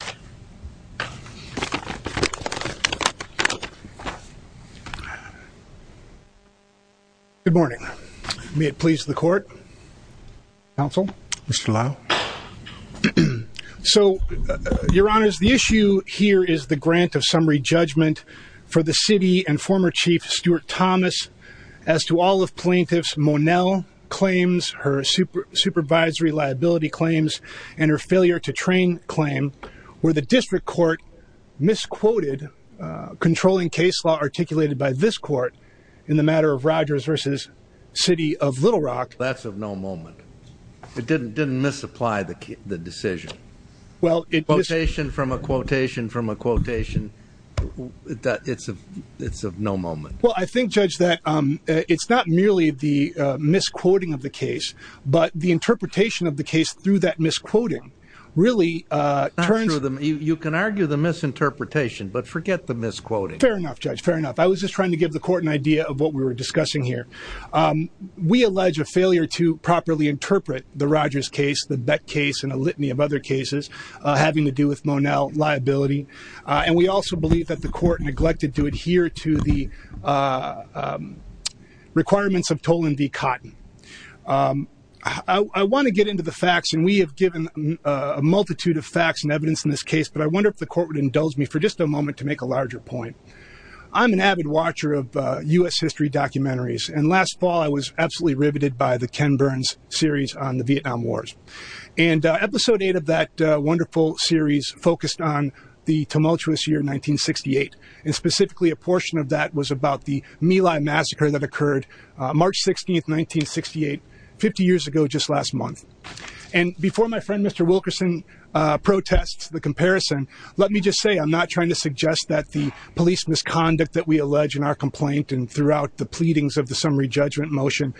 Good morning. May it please the court, counsel, Mr. Lau. So, your honors, the issue here is the grant of summary judgment for the city and former chief Stuart Thomas as to all of plaintiffs' Monell claims, her supervisory liability claims, and her failure to train claim where the district court misquoted controlling case law articulated by this court in the matter of Rogers v. City of Little Rock. That's of no moment. It didn't misapply the decision. Quotation from a quotation from a quotation. It's of no moment. Well, I think, Judge, that it's not merely the misquoting of the case, but the interpretation of the case through that misquoting really turns... You can argue the misinterpretation, but forget the misquoting. Fair enough, Judge. Fair enough. I was just trying to give the court an idea of what we were discussing here. We allege a failure to properly interpret the Rogers case, the Beck case, and a litany of other cases having to do with Monell liability. And we also believe that the court neglected to adhere to the requirements of Tolan v. Cotton. I want to get into the facts, and we have given a multitude of facts and evidence in this case, but I wonder if the court would indulge me for just a moment to make a larger point. I'm an avid watcher of U.S. history documentaries, and last fall I was absolutely riveted by the Ken Burns series on the Vietnam Wars. And episode eight of that wonderful series focused on the tumultuous year 1968, and specifically a portion of that was about the My Lai massacre that occurred March 16th, 1968, 50 years ago just last month. And before my friend Mr. Wilkerson protests the comparison, let me just say I'm not trying to suggest that the police misconduct that we allege in our complaint and throughout the pleadings of the summary judgment motion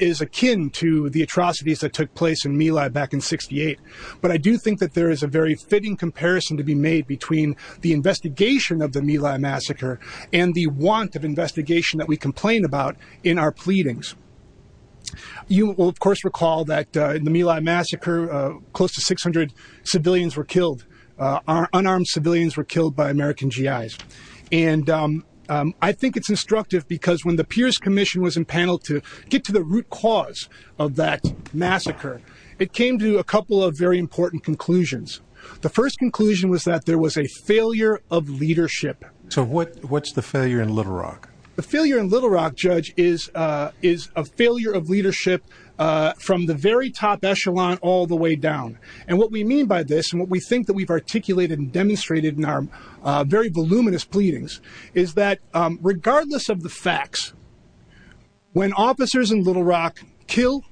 is akin to the atrocities that took place in My Lai back in 68. But I do think that there is a very fitting comparison to be made between the investigation of the My Lai massacre and the want of investigation that we complain about in our pleadings. You will of course recall that in the My Lai massacre close to 600 civilians were killed, unarmed civilians were killed by American G.I.s. And I think it's instructive because when the Pierce Commission was impaneled to get to the root cause of that massacre, it came to a couple of very important conclusions. The first conclusion was that there was a failure of leadership. So what's the failure in Little Rock? The failure in Little Rock, Judge, is a failure of leadership from the very top echelon all the way down. And what we mean by this and what we think that we've articulated and demonstrated in our very voluminous pleadings is that regardless of the facts, when officers in Little Rock kill,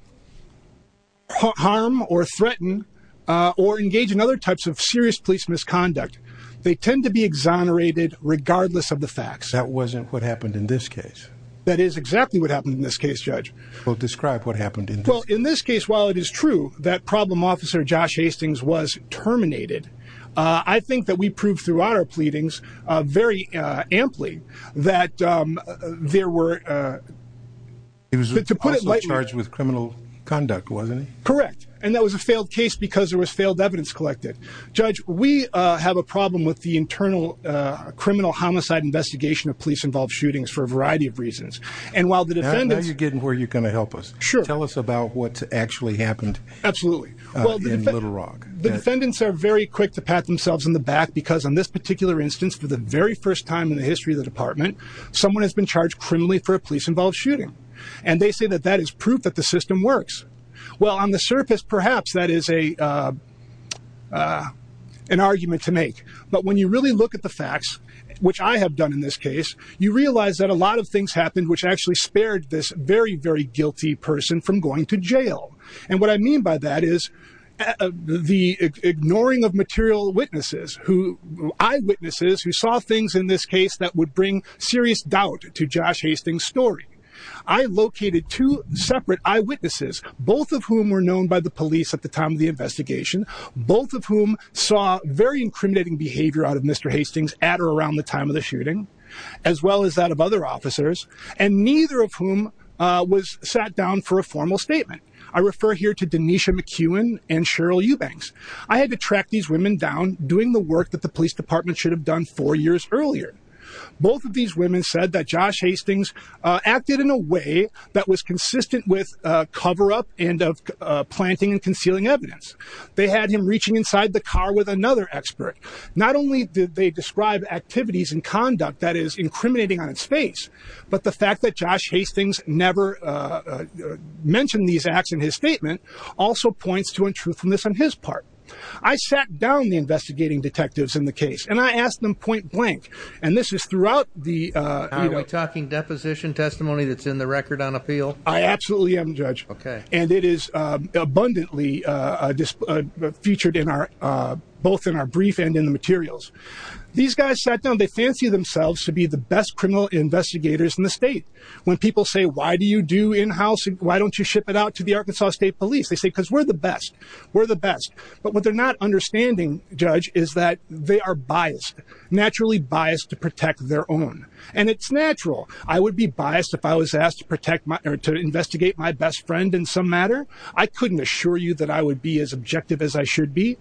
harm or threaten or engage in other types of serious police misconduct, they tend to be exonerated regardless of the facts. That wasn't what happened in this case. That is exactly what happened in this case, Judge. Well, describe what happened. Well, in this case, while it is true that problem officer Josh Hastings was terminated, I think that we proved throughout our pleadings very amply that there were. He was charged with criminal conduct, wasn't he? Correct. And that was a failed case because there was failed evidence collected. Judge, we have a problem with the internal criminal homicide investigation of police involved shootings for a variety of reasons. And while the defendants are getting where you're going to help us. Sure. Tell us about what actually happened. Absolutely. Well, the little rock defendants are very quick to pat themselves on the back because on this particular instance, for the very first time in the history of the department, someone has been charged criminally for a police involved shooting. And they say that that is proof that the system works. Well, on the surface, perhaps that is a an argument to make. But when you really look at the facts, which I have done in this case, you realize that a lot of things happened, which actually spared this very, very guilty person from going to jail. And what I mean by that is the ignoring of material witnesses who eyewitnesses who saw things in this case that would bring serious doubt to Josh Hastings story. I located two separate eyewitnesses, both of whom were known by the police at the time of the investigation, both of whom saw very incriminating behavior out of Mr. Hastings at or around the time of the shooting, as well as that of other officers, and neither of whom was sat down for a formal statement. I refer here to Nisha McEwen and Cheryl Eubanks. I had to track these women down doing the work that the police department should have done four years earlier. Both of these women said that Josh Hastings acted in a way that was consistent with cover up and of planting and concealing evidence. They had him reaching inside the car with another expert. Not only did they describe activities and conduct that is incriminating on its face, but the fact that Josh Hastings never mentioned these acts in his statement also points to untruthfulness on his part. I sat down the investigating detectives in the case and I asked them point blank. And this is throughout the talking deposition testimony that's in the record on appeal. I absolutely am judge. OK, and it is abundantly featured in our both in our brief and in the materials. These guys sat down. They fancy themselves to be the best criminal investigators in the state. When people say, why do you do in-house? Why don't you ship it out to the Arkansas State Police? They say, because we're the best. We're the best. But what they're not understanding, Judge, is that they are biased, naturally biased to protect their own. And it's natural. I would be biased if I was asked to protect my or to investigate my best friend in some matter. I couldn't assure you that I would be as objective as I should be.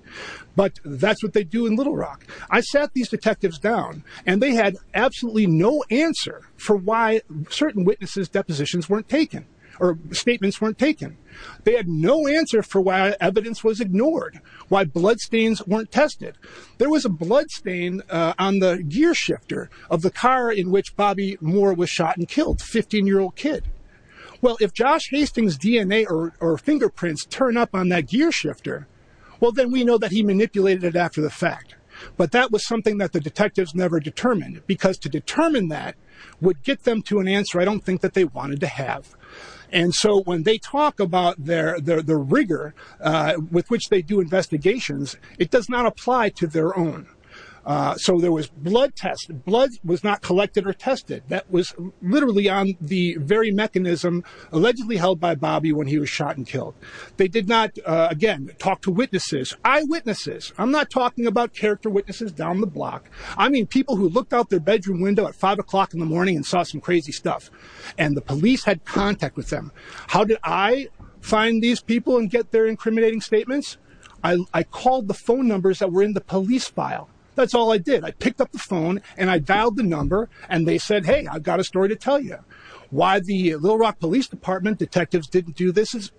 But that's what they do in Little Rock. I sat these detectives down and they had absolutely no answer for why certain witnesses depositions weren't taken or statements weren't taken. They had no answer for why evidence was ignored, why bloodstains weren't tested. There was a bloodstain on the gear shifter of the car in which Bobby Moore was shot and killed. Fifteen year old kid. Well, if Josh Hastings DNA or fingerprints turn up on that gear shifter, well, then we know that he manipulated it after the fact. But that was something that detectives never determined, because to determine that would get them to an answer I don't think that they wanted to have. And so when they talk about their the rigor with which they do investigations, it does not apply to their own. So there was blood test. Blood was not collected or tested. That was literally on the very mechanism allegedly held by Bobby when he was shot and killed. They did not, again, talk to witnesses, eyewitnesses. I'm not talking about character witnesses down the block. I mean, people who looked out their bedroom window at five o'clock in the morning and saw some crazy stuff and the police had contact with them. How did I find these people and get their incriminating statements? I called the phone numbers that were in the police file. That's all I did. I picked up the phone and I dialed the number and they said, hey, I've got a story to tell you why the Little Rock Police Department detectives didn't do this is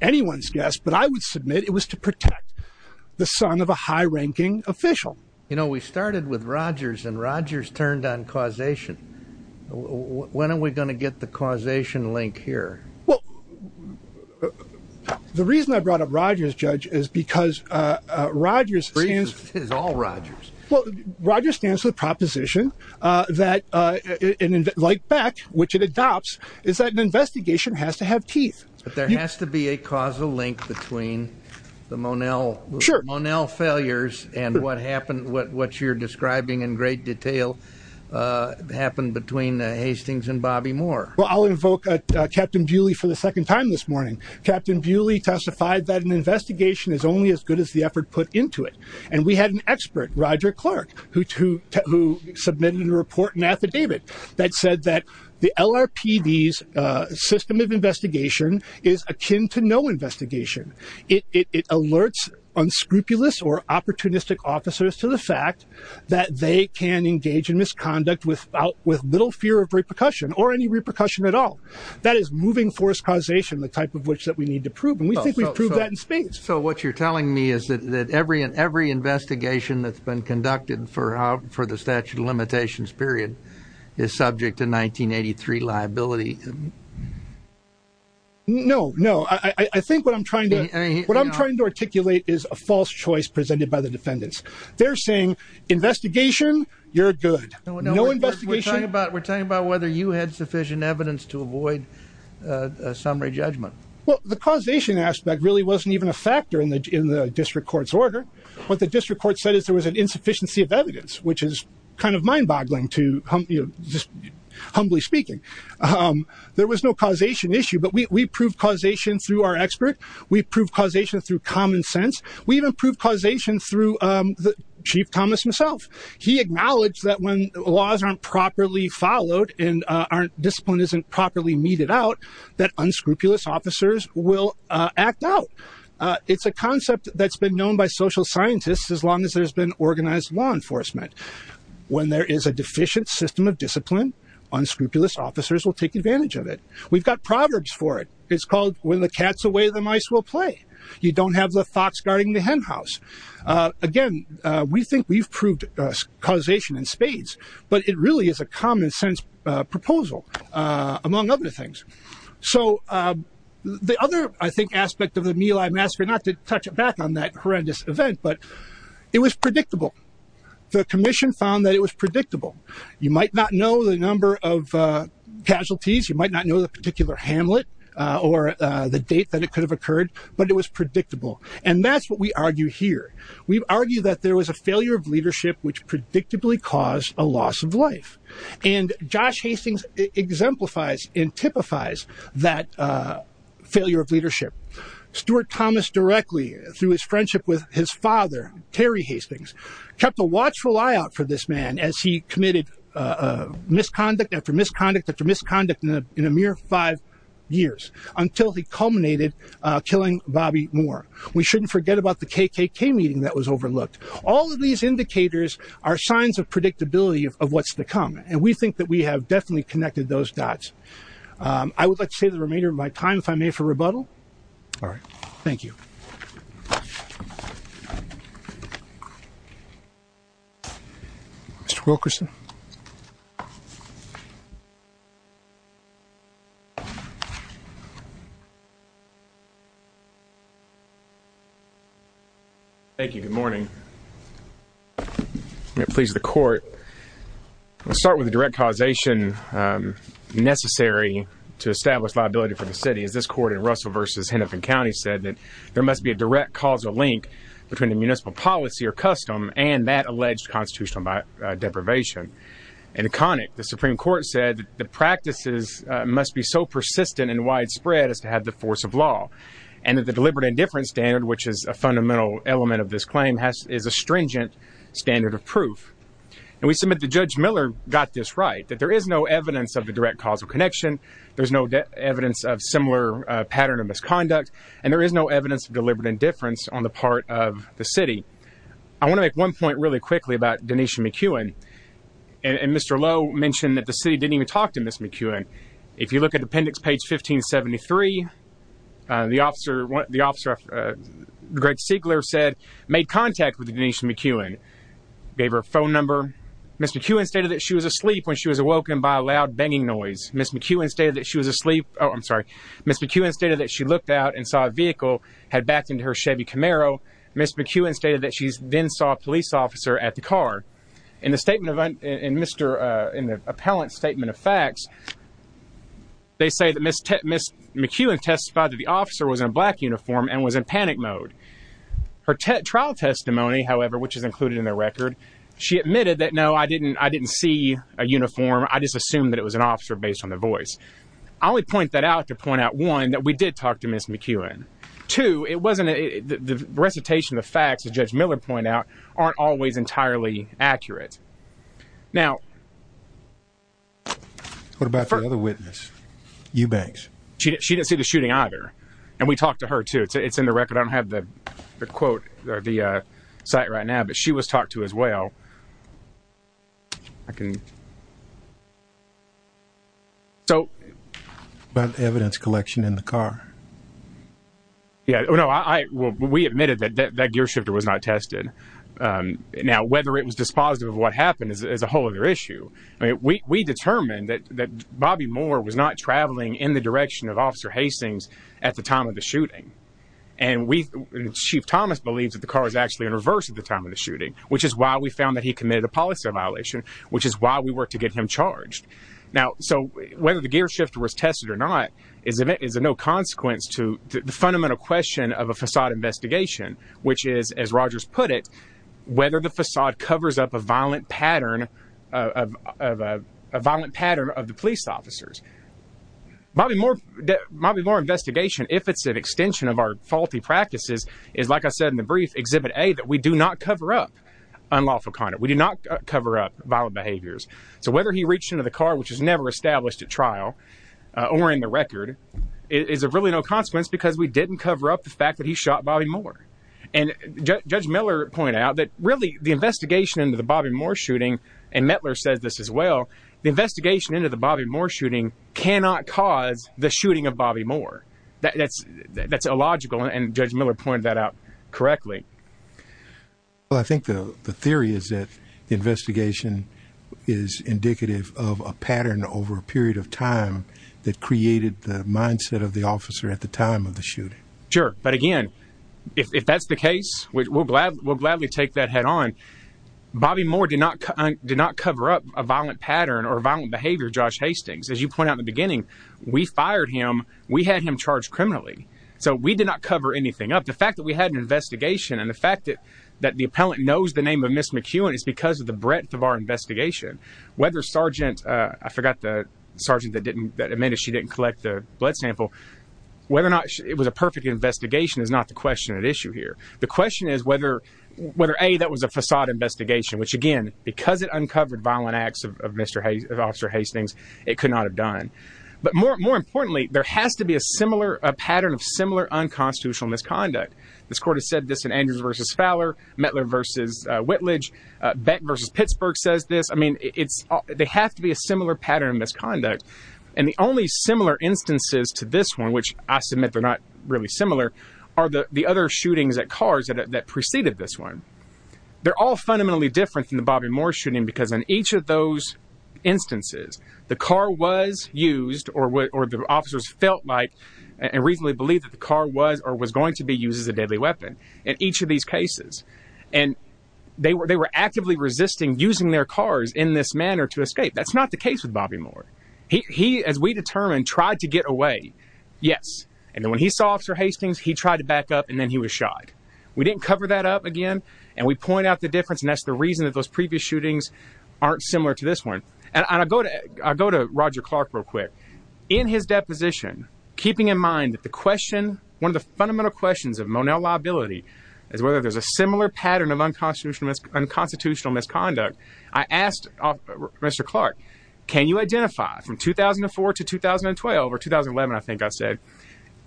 anyone's but I would submit it was to protect the son of a high ranking official. You know, we started with Rogers and Rogers turned on causation. When are we going to get the causation link here? Well, the reason I brought up Rogers, Judge, is because Rogers is all Rogers. Well, Rogers stands with proposition that like Beck, which it adopts, is that an investigation has to have teeth. But there has to be a causal link between the Monel Monel failures and what happened, what what you're describing in great detail happened between Hastings and Bobby Moore. Well, I'll invoke Captain Buehle for the second time this morning. Captain Buehle testified that an investigation is only as good as the effort put into it. And we had an expert, Roger Clark, who submitted a report and affidavit that said that the LAPD's system of investigation is akin to no investigation. It alerts unscrupulous or opportunistic officers to the fact that they can engage in misconduct without with little fear of repercussion or any repercussion at all. That is moving force causation, the type of which that we need to prove. And we think we've proved that in space. So what you're telling me is that every and every investigation that's been conducted for for the statute of limitations period is subject to 1983 liability. No, no. I think what I'm trying to what I'm trying to articulate is a false choice presented by the defendants. They're saying investigation. You're good. No investigation about we're talking about whether you had sufficient evidence to avoid a summary judgment. Well, the causation aspect really wasn't even a factor in the district court's order. What the district court said is there was an insufficiency of evidence, which is kind of mind boggling to humbly speaking. There was no causation issue, but we proved causation through our expert. We proved causation through common sense. We even proved causation through Chief Thomas himself. He acknowledged that when laws aren't properly followed and aren't discipline isn't properly meted out, that unscrupulous officers will act out. It's a organized law enforcement. When there is a deficient system of discipline, unscrupulous officers will take advantage of it. We've got proverbs for it. It's called when the cat's away, the mice will play. You don't have the fox guarding the hen house. Again, we think we've proved causation in spades, but it really is a common sense proposal among other things. So the other, I think, aspect of the meal, I'm asking not to touch it back on that horrendous event, but it was predictable. The commission found that it was predictable. You might not know the number of casualties. You might not know the particular Hamlet or the date that it could have occurred, but it was predictable. And that's what we argue here. We've argued that there was a failure of leadership, which predictably caused a loss of life. And Josh Hastings exemplifies and typifies that failure of leadership. Stuart Thomas directly through his friendship with his father, Terry Hastings, kept a watchful eye out for this man as he committed misconduct after misconduct after misconduct in a mere five years until he culminated killing Bobby Moore. We shouldn't forget about the KKK meeting that was overlooked. All of these indicators are signs of I would like to say the remainder of my time, if I may, for rebuttal. All right. Thank you. Mr. Wilkerson. Thank you. Good morning. Please. The court will start with the direct causation necessary to establish liability for the city. As this court in Russell versus Hennepin County said that there must be a direct causal link between the municipal policy or custom and that alleged constitutional deprivation. In Connick, the Supreme Court said that the practices must be so persistent and widespread as to have the force of law and that the deliberate indifference standard, which is a fundamental element of this claim, is a stringent standard of proof. And we submit the judge Miller got this right, that there is no evidence of the direct causal connection. There's no evidence of similar pattern of misconduct, and there is no evidence of deliberate indifference on the part of the city. I want to make one point really quickly about Denise McEwen and Mr. Lowe mentioned that the city didn't even talk to Miss McEwen. If you look at the appendix, page 1573, the officer, the officer, Greg Seigler said, made contact with Denise McEwen, gave her a phone number. Miss McEwen stated that she was asleep when she was awoken by a loud banging noise. Miss McEwen stated that she was asleep. Oh, I'm sorry. Miss McEwen stated that she looked out and saw a vehicle had backed into her Chevy Camaro. Miss McEwen stated that she then saw a police officer at the car. In the statement of Mr. in the appellant statement of facts, they say that Miss McEwen testified that the officer was in a black uniform and was in panic mode. Her trial testimony, however, which is included in the record, she admitted that, no, I didn't I didn't see a uniform. I just assumed that it was an officer based on the voice. I only point that out to point out, one, that we did talk to Miss McEwen. Two, it wasn't the recitation of facts that Judge Miller point out aren't always entirely accurate. Now, what about the other witness, Eubanks? She didn't she didn't see the shooting either, and we talked to her, too. It's in the record. I don't have the the quote or the site right now, but she was talked to as well. I can. So, but the evidence collection in the car. Yeah, no, I will. We admitted that that gear shifter was not tested. Now, whether it was dispositive of what happened is a whole other issue. I mean, we determined that Bobby Moore was not traveling in the direction of Officer Hastings at the time of the shooting. And we Chief Thomas believes that the car is actually in reverse at the time of the shooting, which is why we found that he committed a policy violation, which is why we were to get him charged now. So whether the gear shifter was tested or not is is a no consequence to the fundamental question of a facade investigation, which is, as Rogers put it, whether the facade covers up a violent pattern of a violent pattern of the officers. Bobby Moore, Bobby Moore investigation, if it's an extension of our faulty practices, is, like I said in the brief exhibit, a that we do not cover up unlawful conduct. We do not cover up violent behaviors. So whether he reached into the car, which is never established at trial or in the record is really no consequence because we didn't cover up the fact that he shot Bobby Moore. And Judge Miller pointed out that really the investigation into the Bobby Moore shooting and Mettler says this as well. The investigation into the Bobby Moore shooting cannot cause the shooting of Bobby Moore. That's that's illogical. And Judge Miller pointed that out correctly. Well, I think the theory is that the investigation is indicative of a pattern over a period of time that created the mindset of the officer at the time of the shooting. Sure. But again, if that's the case, we're glad we'll gladly take that head on. Bobby Moore did not did not cover up a violent pattern or violent behavior. Josh Hastings, as you point out in the beginning, we fired him. We had him charged criminally. So we did not cover anything up. The fact that we had an investigation and the fact that that the appellant knows the name of Miss McEwen is because of the breadth of our investigation, whether Sergeant I forgot the sergeant that didn't that amended. She didn't collect the blood sample, whether or not it was a perfect investigation is not the question at issue here. The question is whether whether a that was a facade investigation, which, again, because it uncovered violent acts of Mr. Hayes, Officer Hastings, it could not have done. But more more importantly, there has to be a similar pattern of similar unconstitutional misconduct. This court has said this in Andrews versus Fowler, Mettler versus Whitledge, Beck versus Pittsburgh says this. I mean, it's they have to be a similar pattern of misconduct. And the only similar instances to this one, which I submit they're not really are the other shootings at cars that preceded this one. They're all fundamentally different than the Bobby Moore shooting, because in each of those instances, the car was used or what the officers felt like and reasonably believe that the car was or was going to be used as a deadly weapon in each of these cases. And they were they were actively resisting using their cars in this manner to escape. That's not the case with Bobby Moore. He, as we determined, tried to get away. Yes. And then when he saw Officer Hastings, he tried to back up and then he was shot. We didn't cover that up again. And we point out the difference. And that's the reason that those previous shootings aren't similar to this one. And I go to I go to Roger Clark real quick in his deposition, keeping in mind that the question one of the fundamental questions of Monell liability is whether there's a similar pattern of unconstitutional misconduct. I asked Mr. Clark, can you identify from 2004 to 2012 or 2011? I think I said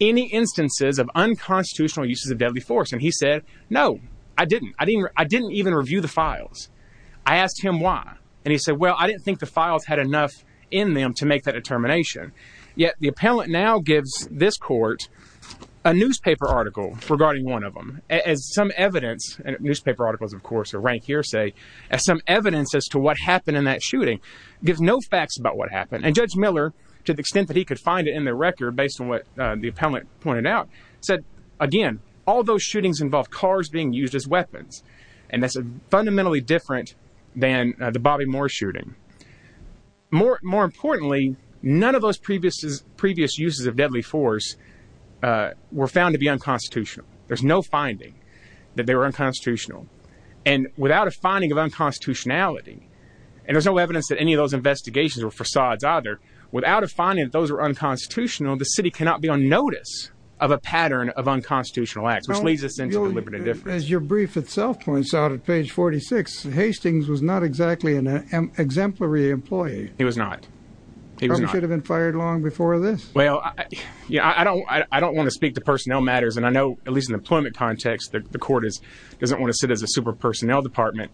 any instances of unconstitutional uses of deadly force. And he said, no, I didn't. I didn't. I didn't even review the files. I asked him why. And he said, well, I didn't think the files had enough in them to make that determination. Yet the appellant now gives this court a newspaper article regarding one of them as some evidence and newspaper articles, of course, a rank hearsay as some evidence as to what happened in that shooting gives no facts about what happened. And Judge Miller, to the extent that he could find it in the record, based on what the appellant pointed out, said, again, all those shootings involve cars being used as weapons. And that's fundamentally different than the Bobby Moore shooting. More more importantly, none of those previous previous uses of deadly force were found to be unconstitutional. There's no finding that they were unconstitutional. And without a finding of unconstitutionality, and there's no evidence that any of those investigations or facades either, without a finding that those were unconstitutional, the city cannot be on notice of a pattern of unconstitutional acts, which leads us into As your brief itself points out at page 46, Hastings was not exactly an exemplary employee. He was not. He should have been fired long before this. Well, yeah, I don't I don't want to speak to personnel matters. And I know at least in employment context, that the court is doesn't want to sit as a super personnel department.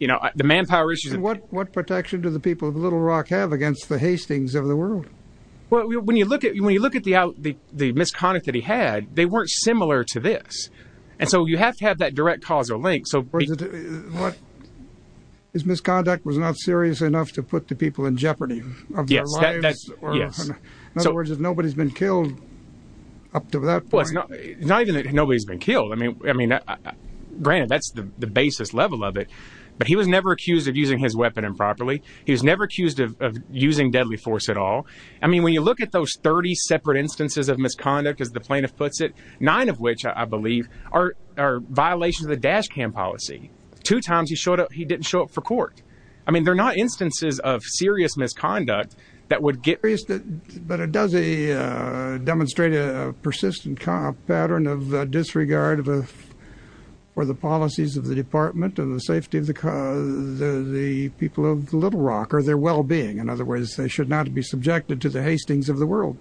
You know, the manpower issues, what what protection do the people of Little Rock have against the Hastings of the world? Well, when you look at the the the misconduct that he had, they weren't similar to this. And so you have to have that direct causal link. So what? His misconduct was not serious enough to put the people in jeopardy of their lives. Yes. In other words, if nobody's been killed up to that point, not even nobody's been killed. I mean, I mean, granted, that's the basis level of it. But he was never accused of using his weapon improperly. He was never accused of using deadly force at all. I mean, when you look at those 30 separate instances of misconduct, as the plaintiff puts it, nine of which, I believe, are are violations of the dash cam policy. Two times he showed up. He didn't show up for court. I mean, they're not instances of serious misconduct that would get. But it does a demonstrate a persistent pattern of disregard for the policies of the department and the safety of the the people of Little Rock or their well-being. In other words, they should not be subjected to the hastings of the world.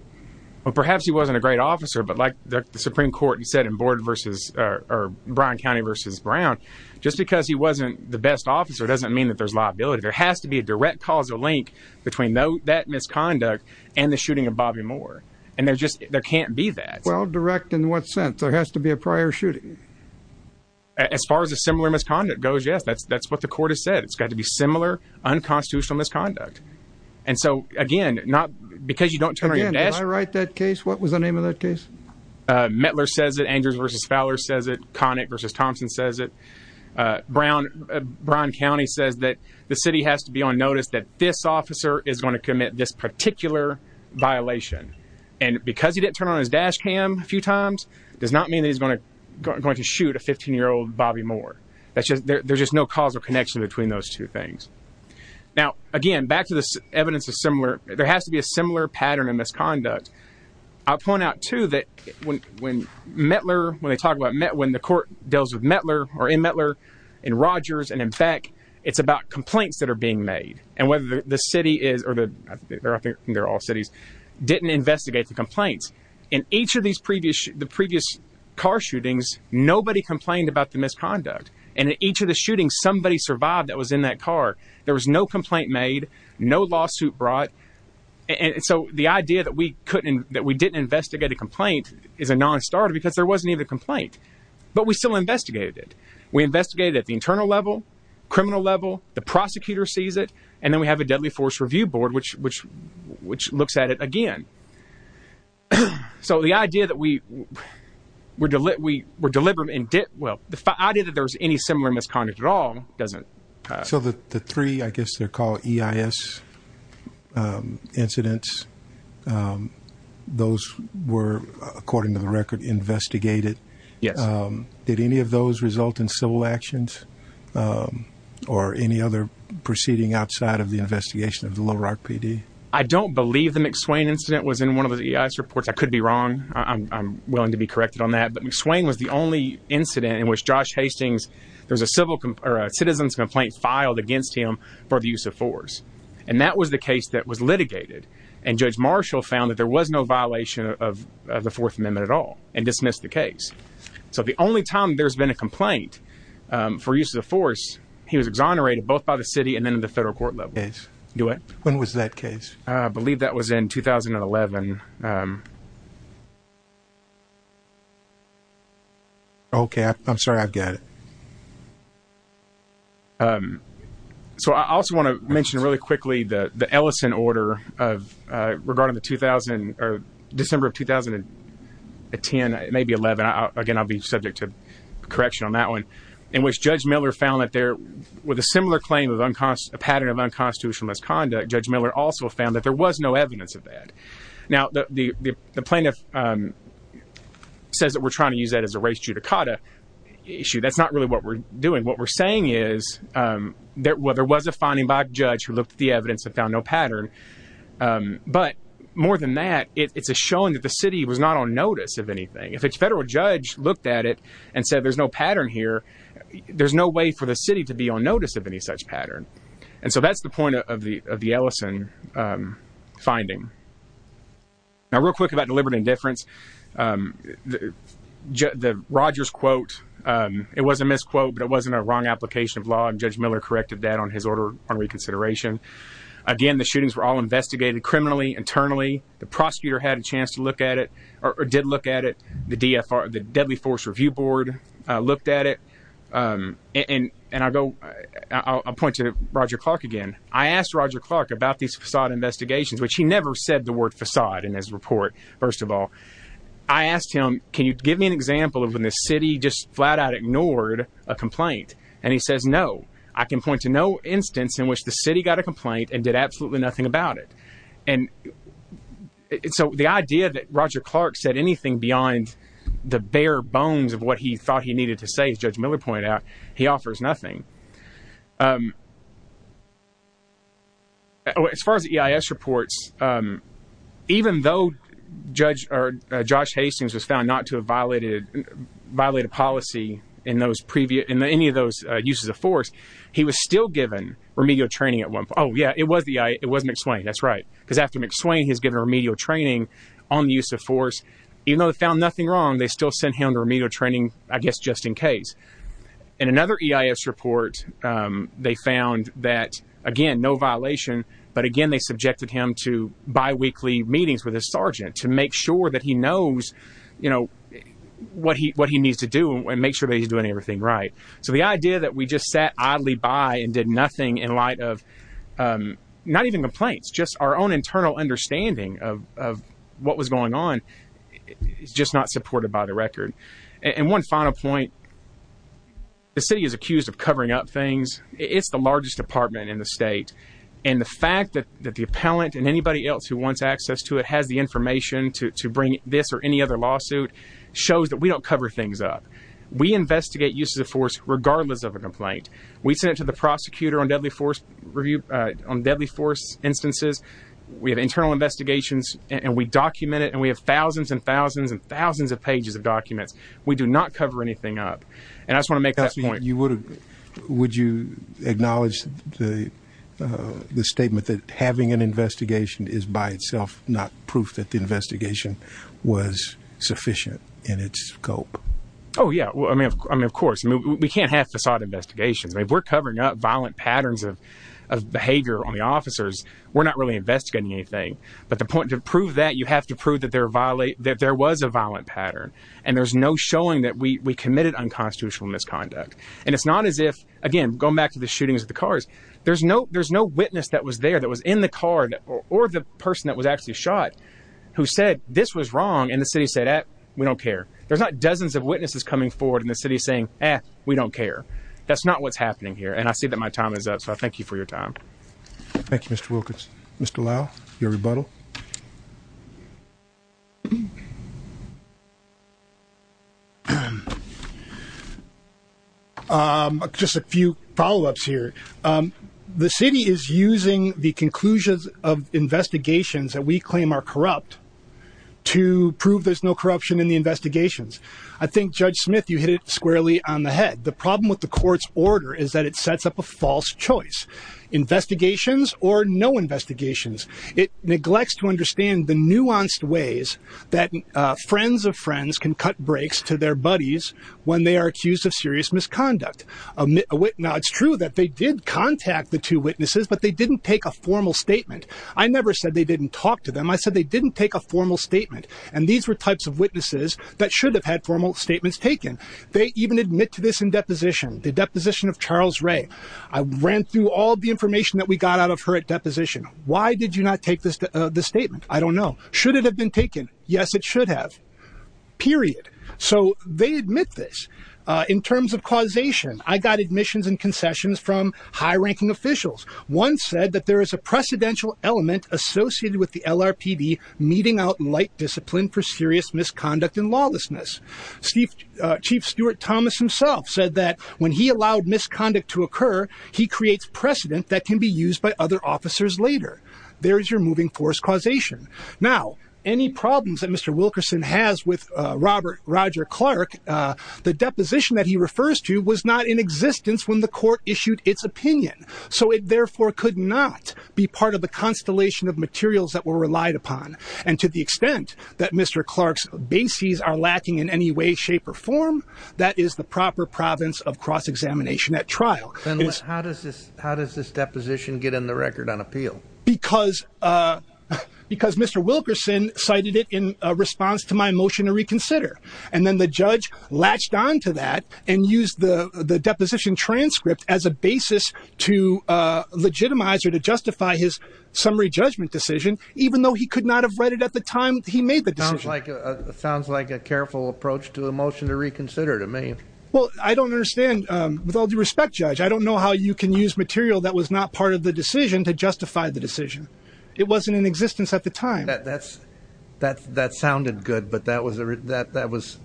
Well, perhaps he wasn't a great officer, but like the Supreme Court, he said in board versus or Brown County versus Brown, just because he wasn't the best officer doesn't mean that there's liability. There has to be a direct causal link between that misconduct and the shooting of Bobby Moore. And there's just there can't be that. Well, direct in what sense? There has to be a prior shooting. As far as a similar misconduct goes, yes, that's that's what the court has said. It's got to be again, not because you don't write that case. What was the name of that case? Mettler says that Andrews versus Fowler says it. Connick versus Thompson says it. Brown, Brown County says that the city has to be on notice that this officer is going to commit this particular violation. And because he didn't turn on his dash cam a few times does not mean that he's going to going to shoot a 15 year old Bobby Moore. That's just there's just no causal connection between those two things. Now, again, back to this evidence of similar, there has to be a similar pattern of misconduct. I'll point out, too, that when when Mettler when they talk about when the court deals with Mettler or in Mettler and Rogers and in fact, it's about complaints that are being made and whether the city is or the they're all cities didn't investigate the complaints in each of these previous the previous car shootings. Nobody complained about the misconduct. And in each of the shootings, somebody survived that was in that car. There was no complaint made, no lawsuit brought. And so the idea that we couldn't that we didn't investigate a complaint is a nonstarter because there wasn't even a complaint. But we still investigated it. We investigated at the internal level, criminal level. The prosecutor sees it. And then we have a deadly force review board, which which which looks at it again. So the idea that we were we were delivered in debt. Well, the idea that there's any similar misconduct at all doesn't. So the three, I guess they're called EIS incidents. Those were, according to the record, investigated. Yes. Did any of those result in civil actions or any other proceeding outside of the investigation of the Little Rock PD? I don't believe the McSwain incident was in one of the reports. I could be wrong. I'm willing to be corrected on that. But McSwain was the only incident in which Josh Hastings, there's a civil or a citizen's complaint filed against him for the use of force. And that was the case that was litigated. And Judge Marshall found that there was no violation of the Fourth Amendment at all and dismissed the case. So the only time there's been a complaint for use of force, he was exonerated both by the city and then the federal court level. When was that case? I believe that was in 2011. OK, I'm sorry, I've got it. So I also want to mention really quickly the Ellison order of regarding the 2000 or December of 2010, maybe 11. Again, I'll be subject to correction on that one in which Judge Miller found that there was a similar claim of a pattern of unconstitutional misconduct. Judge Miller also found that there was no evidence of that. Now, the plaintiff says that we're trying to use that as a race judicata issue. That's not really what we're doing. What we're saying is there was a finding by a judge who looked at the evidence and found no pattern. But more than that, it's a showing that the city was not on notice of anything. If a federal judge looked at it and said there's no pattern here, there's no way for the city to be on notice of any such pattern. And so that's the point of the Ellison finding. Now, real quick about deliberate indifference. The Rogers quote, it was a misquote, but it wasn't a wrong application of law. Judge Miller corrected that on his order on reconsideration. Again, the shootings were all investigated criminally, internally. The prosecutor had a chance to look at it or did look at it. The deadly force review board looked at it. And I'll point to Roger Clark again. I asked Roger Clark about these facade investigations, which he never said the word facade in his report, first of all. I asked him, can you give me an example of when the city just flat out ignored a complaint? And he says, no, I can point to no instance in which the city got a complaint and absolutely nothing about it. And so the idea that Roger Clark said anything beyond the bare bones of what he thought he needed to say, as Judge Miller pointed out, he offers nothing. As far as the EIS reports, even though judge or Josh Hastings was found not to have violated policy in those previous, in any of those uses of force, he was still given remedial training at Oh yeah, it was the, it was McSwain. That's right. Cause after McSwain has given remedial training on the use of force, even though they found nothing wrong, they still sent him to remedial training, I guess, just in case. And another EIS report, they found that again, no violation, but again, they subjected him to biweekly meetings with his sergeant to make sure that he knows, you know, what he, what he needs to do and make sure that he's doing everything right. So the idea that we just sat oddly by and did nothing in light of, not even complaints, just our own internal understanding of, of what was going on, it's just not supported by the record. And one final point, the city is accused of covering up things. It's the largest department in the state. And the fact that, that the appellant and anybody else who wants access to it has the information to bring this or any other lawsuit shows that we don't cover things up. We investigate use of force, regardless of a complaint. We sent it to the prosecutor on deadly force review on deadly force instances. We have internal investigations and we document it and we have thousands and thousands and thousands of pages of documents. We do not cover anything up. And I just want to make that point. Would you acknowledge the, uh, the statement that having an investigation is by itself, not proof that the investigation was sufficient in its scope? Oh yeah. Well, I mean, I mean, of course we can't have facade investigations. I mean, we're covering up violent patterns of, of behavior on the officers. We're not really investigating anything, but the point to prove that you have to prove that they're violate, that there was a violent pattern and there's no showing that we committed unconstitutional misconduct. And it's not as if, again, going back to the shootings at the cars, there's no, no witness that was there that was in the car or the person that was actually shot who said this was wrong. And the city said, we don't care. There's not dozens of witnesses coming forward in the city saying, eh, we don't care. That's not what's happening here. And I see that my time is up. So I thank you for your time. Thank you, Mr. Wilkins, Mr. Lau, your rebuttal. Um, just a few follow-ups here. Um, the city is using the conclusions of investigations that we claim are corrupt to prove there's no corruption in the investigations. I think judge Smith, you hit it squarely on the head. The problem with the court's order is that it sets up a false choice investigations or no investigations. It neglects to understand the ways that, uh, friends of friends can cut breaks to their buddies when they are accused of serious misconduct. Um, now it's true that they did contact the two witnesses, but they didn't take a formal statement. I never said they didn't talk to them. I said, they didn't take a formal statement. And these were types of witnesses that should have had formal statements taken. They even admit to this in deposition, the deposition of Charles Ray. I ran through all the information that we got out of her at deposition. Why did you not take this? Uh, I don't know. Should it have been taken? Yes, it should have period. So they admit this, uh, in terms of causation, I got admissions and concessions from high ranking officials. One said that there is a precedential element associated with the LRPD meeting out light discipline for serious misconduct and lawlessness. Steve, uh, chief Stuart Thomas himself said that when he allowed misconduct to occur, he creates precedent that can be used by other officers. There's your moving force causation. Now, any problems that Mr. Wilkerson has with Robert Roger Clark, uh, the deposition that he refers to was not in existence when the court issued its opinion. So it therefore could not be part of the constellation of materials that were relied upon. And to the extent that Mr. Clark's bases are lacking in any way, shape, or form that is the proper province of cross-examination at trial. How does this, how does this deposition get in the record on appeal? Because, uh, because Mr. Wilkerson cited it in a response to my motion to reconsider. And then the judge latched onto that and use the deposition transcript as a basis to, uh, legitimize or to justify his summary judgment decision, even though he could not have read it at the time he made the decision. It sounds like a careful approach to the motion to reconsider to me. Well, I don't understand, um, with all due respect, judge, I don't know how you can use material that was not part of the decision to justify the decision. It wasn't in existence at the time. That's, that's, that sounded good, but that was a, that, that was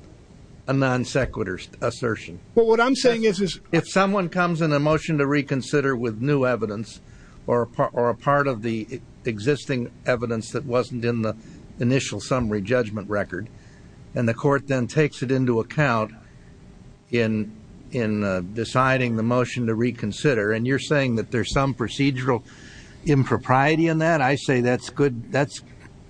a non sequitur assertion. Well, what I'm saying is, is if someone comes in a motion to reconsider with new evidence or, or a part of the existing evidence that wasn't in the initial summary judgment record, and the court then takes it into account in, in, uh, deciding the motion to reconsider. And you're saying that there's some procedural impropriety in that. I say, that's good. That's,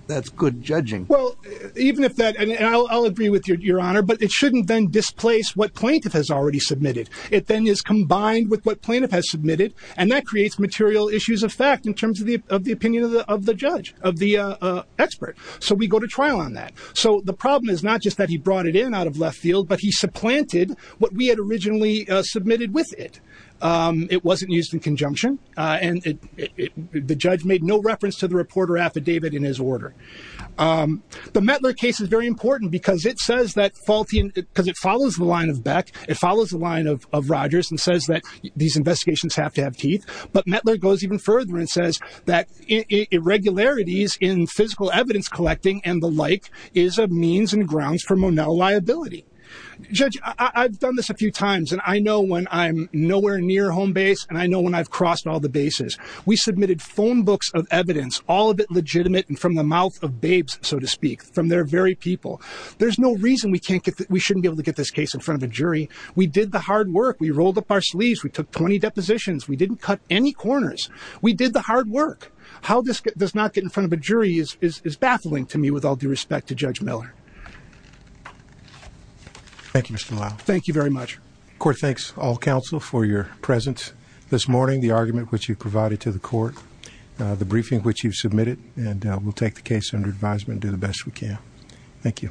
that's good judging. Well, even if that, and I'll, I'll agree with your, your honor, but it shouldn't then displace what plaintiff has already submitted. It then is combined with what plaintiff has submitted. And that creates material issues of fact in terms of the, of the opinion of the, of the judge, of the, uh, uh, expert. So we go to trial on that. So the problem is not just that he brought it in out of left field, but he supplanted what we had originally submitted with it. Um, it wasn't used in conjunction. Uh, and it, it, it, the judge made no reference to the reporter affidavit in his order. Um, the Metler case is very important because it says that faulty, cause it follows the line of Beck. It follows the line of, of Rogers and says that these investigations have to have teeth, but Metler goes even further and says that irregularities in physical evidence collecting and the like is a means and grounds for Monell liability judge. I've done this a few times, and I know when I'm nowhere near home base and I know when I've crossed all the bases, we submitted phone books of evidence, all of it legitimate. And from the mouth of babes, so to speak from their very people, there's no reason we can't get that. We shouldn't be able to get this case in front of a jury. We did the hard work. We rolled up our sleeves. We took 20 depositions. We didn't cut any corners. We did the hard work. How this does not get in front of a jury is, is, is baffling to me with all due respect to judge Miller. Thank you, Mr. Lyle. Thank you very much. Court. Thanks all counsel for your presence this morning, the argument, which you've provided to the court, uh, the briefing, which you've submitted and we'll take the case under advisement and do the best we can. Thank you.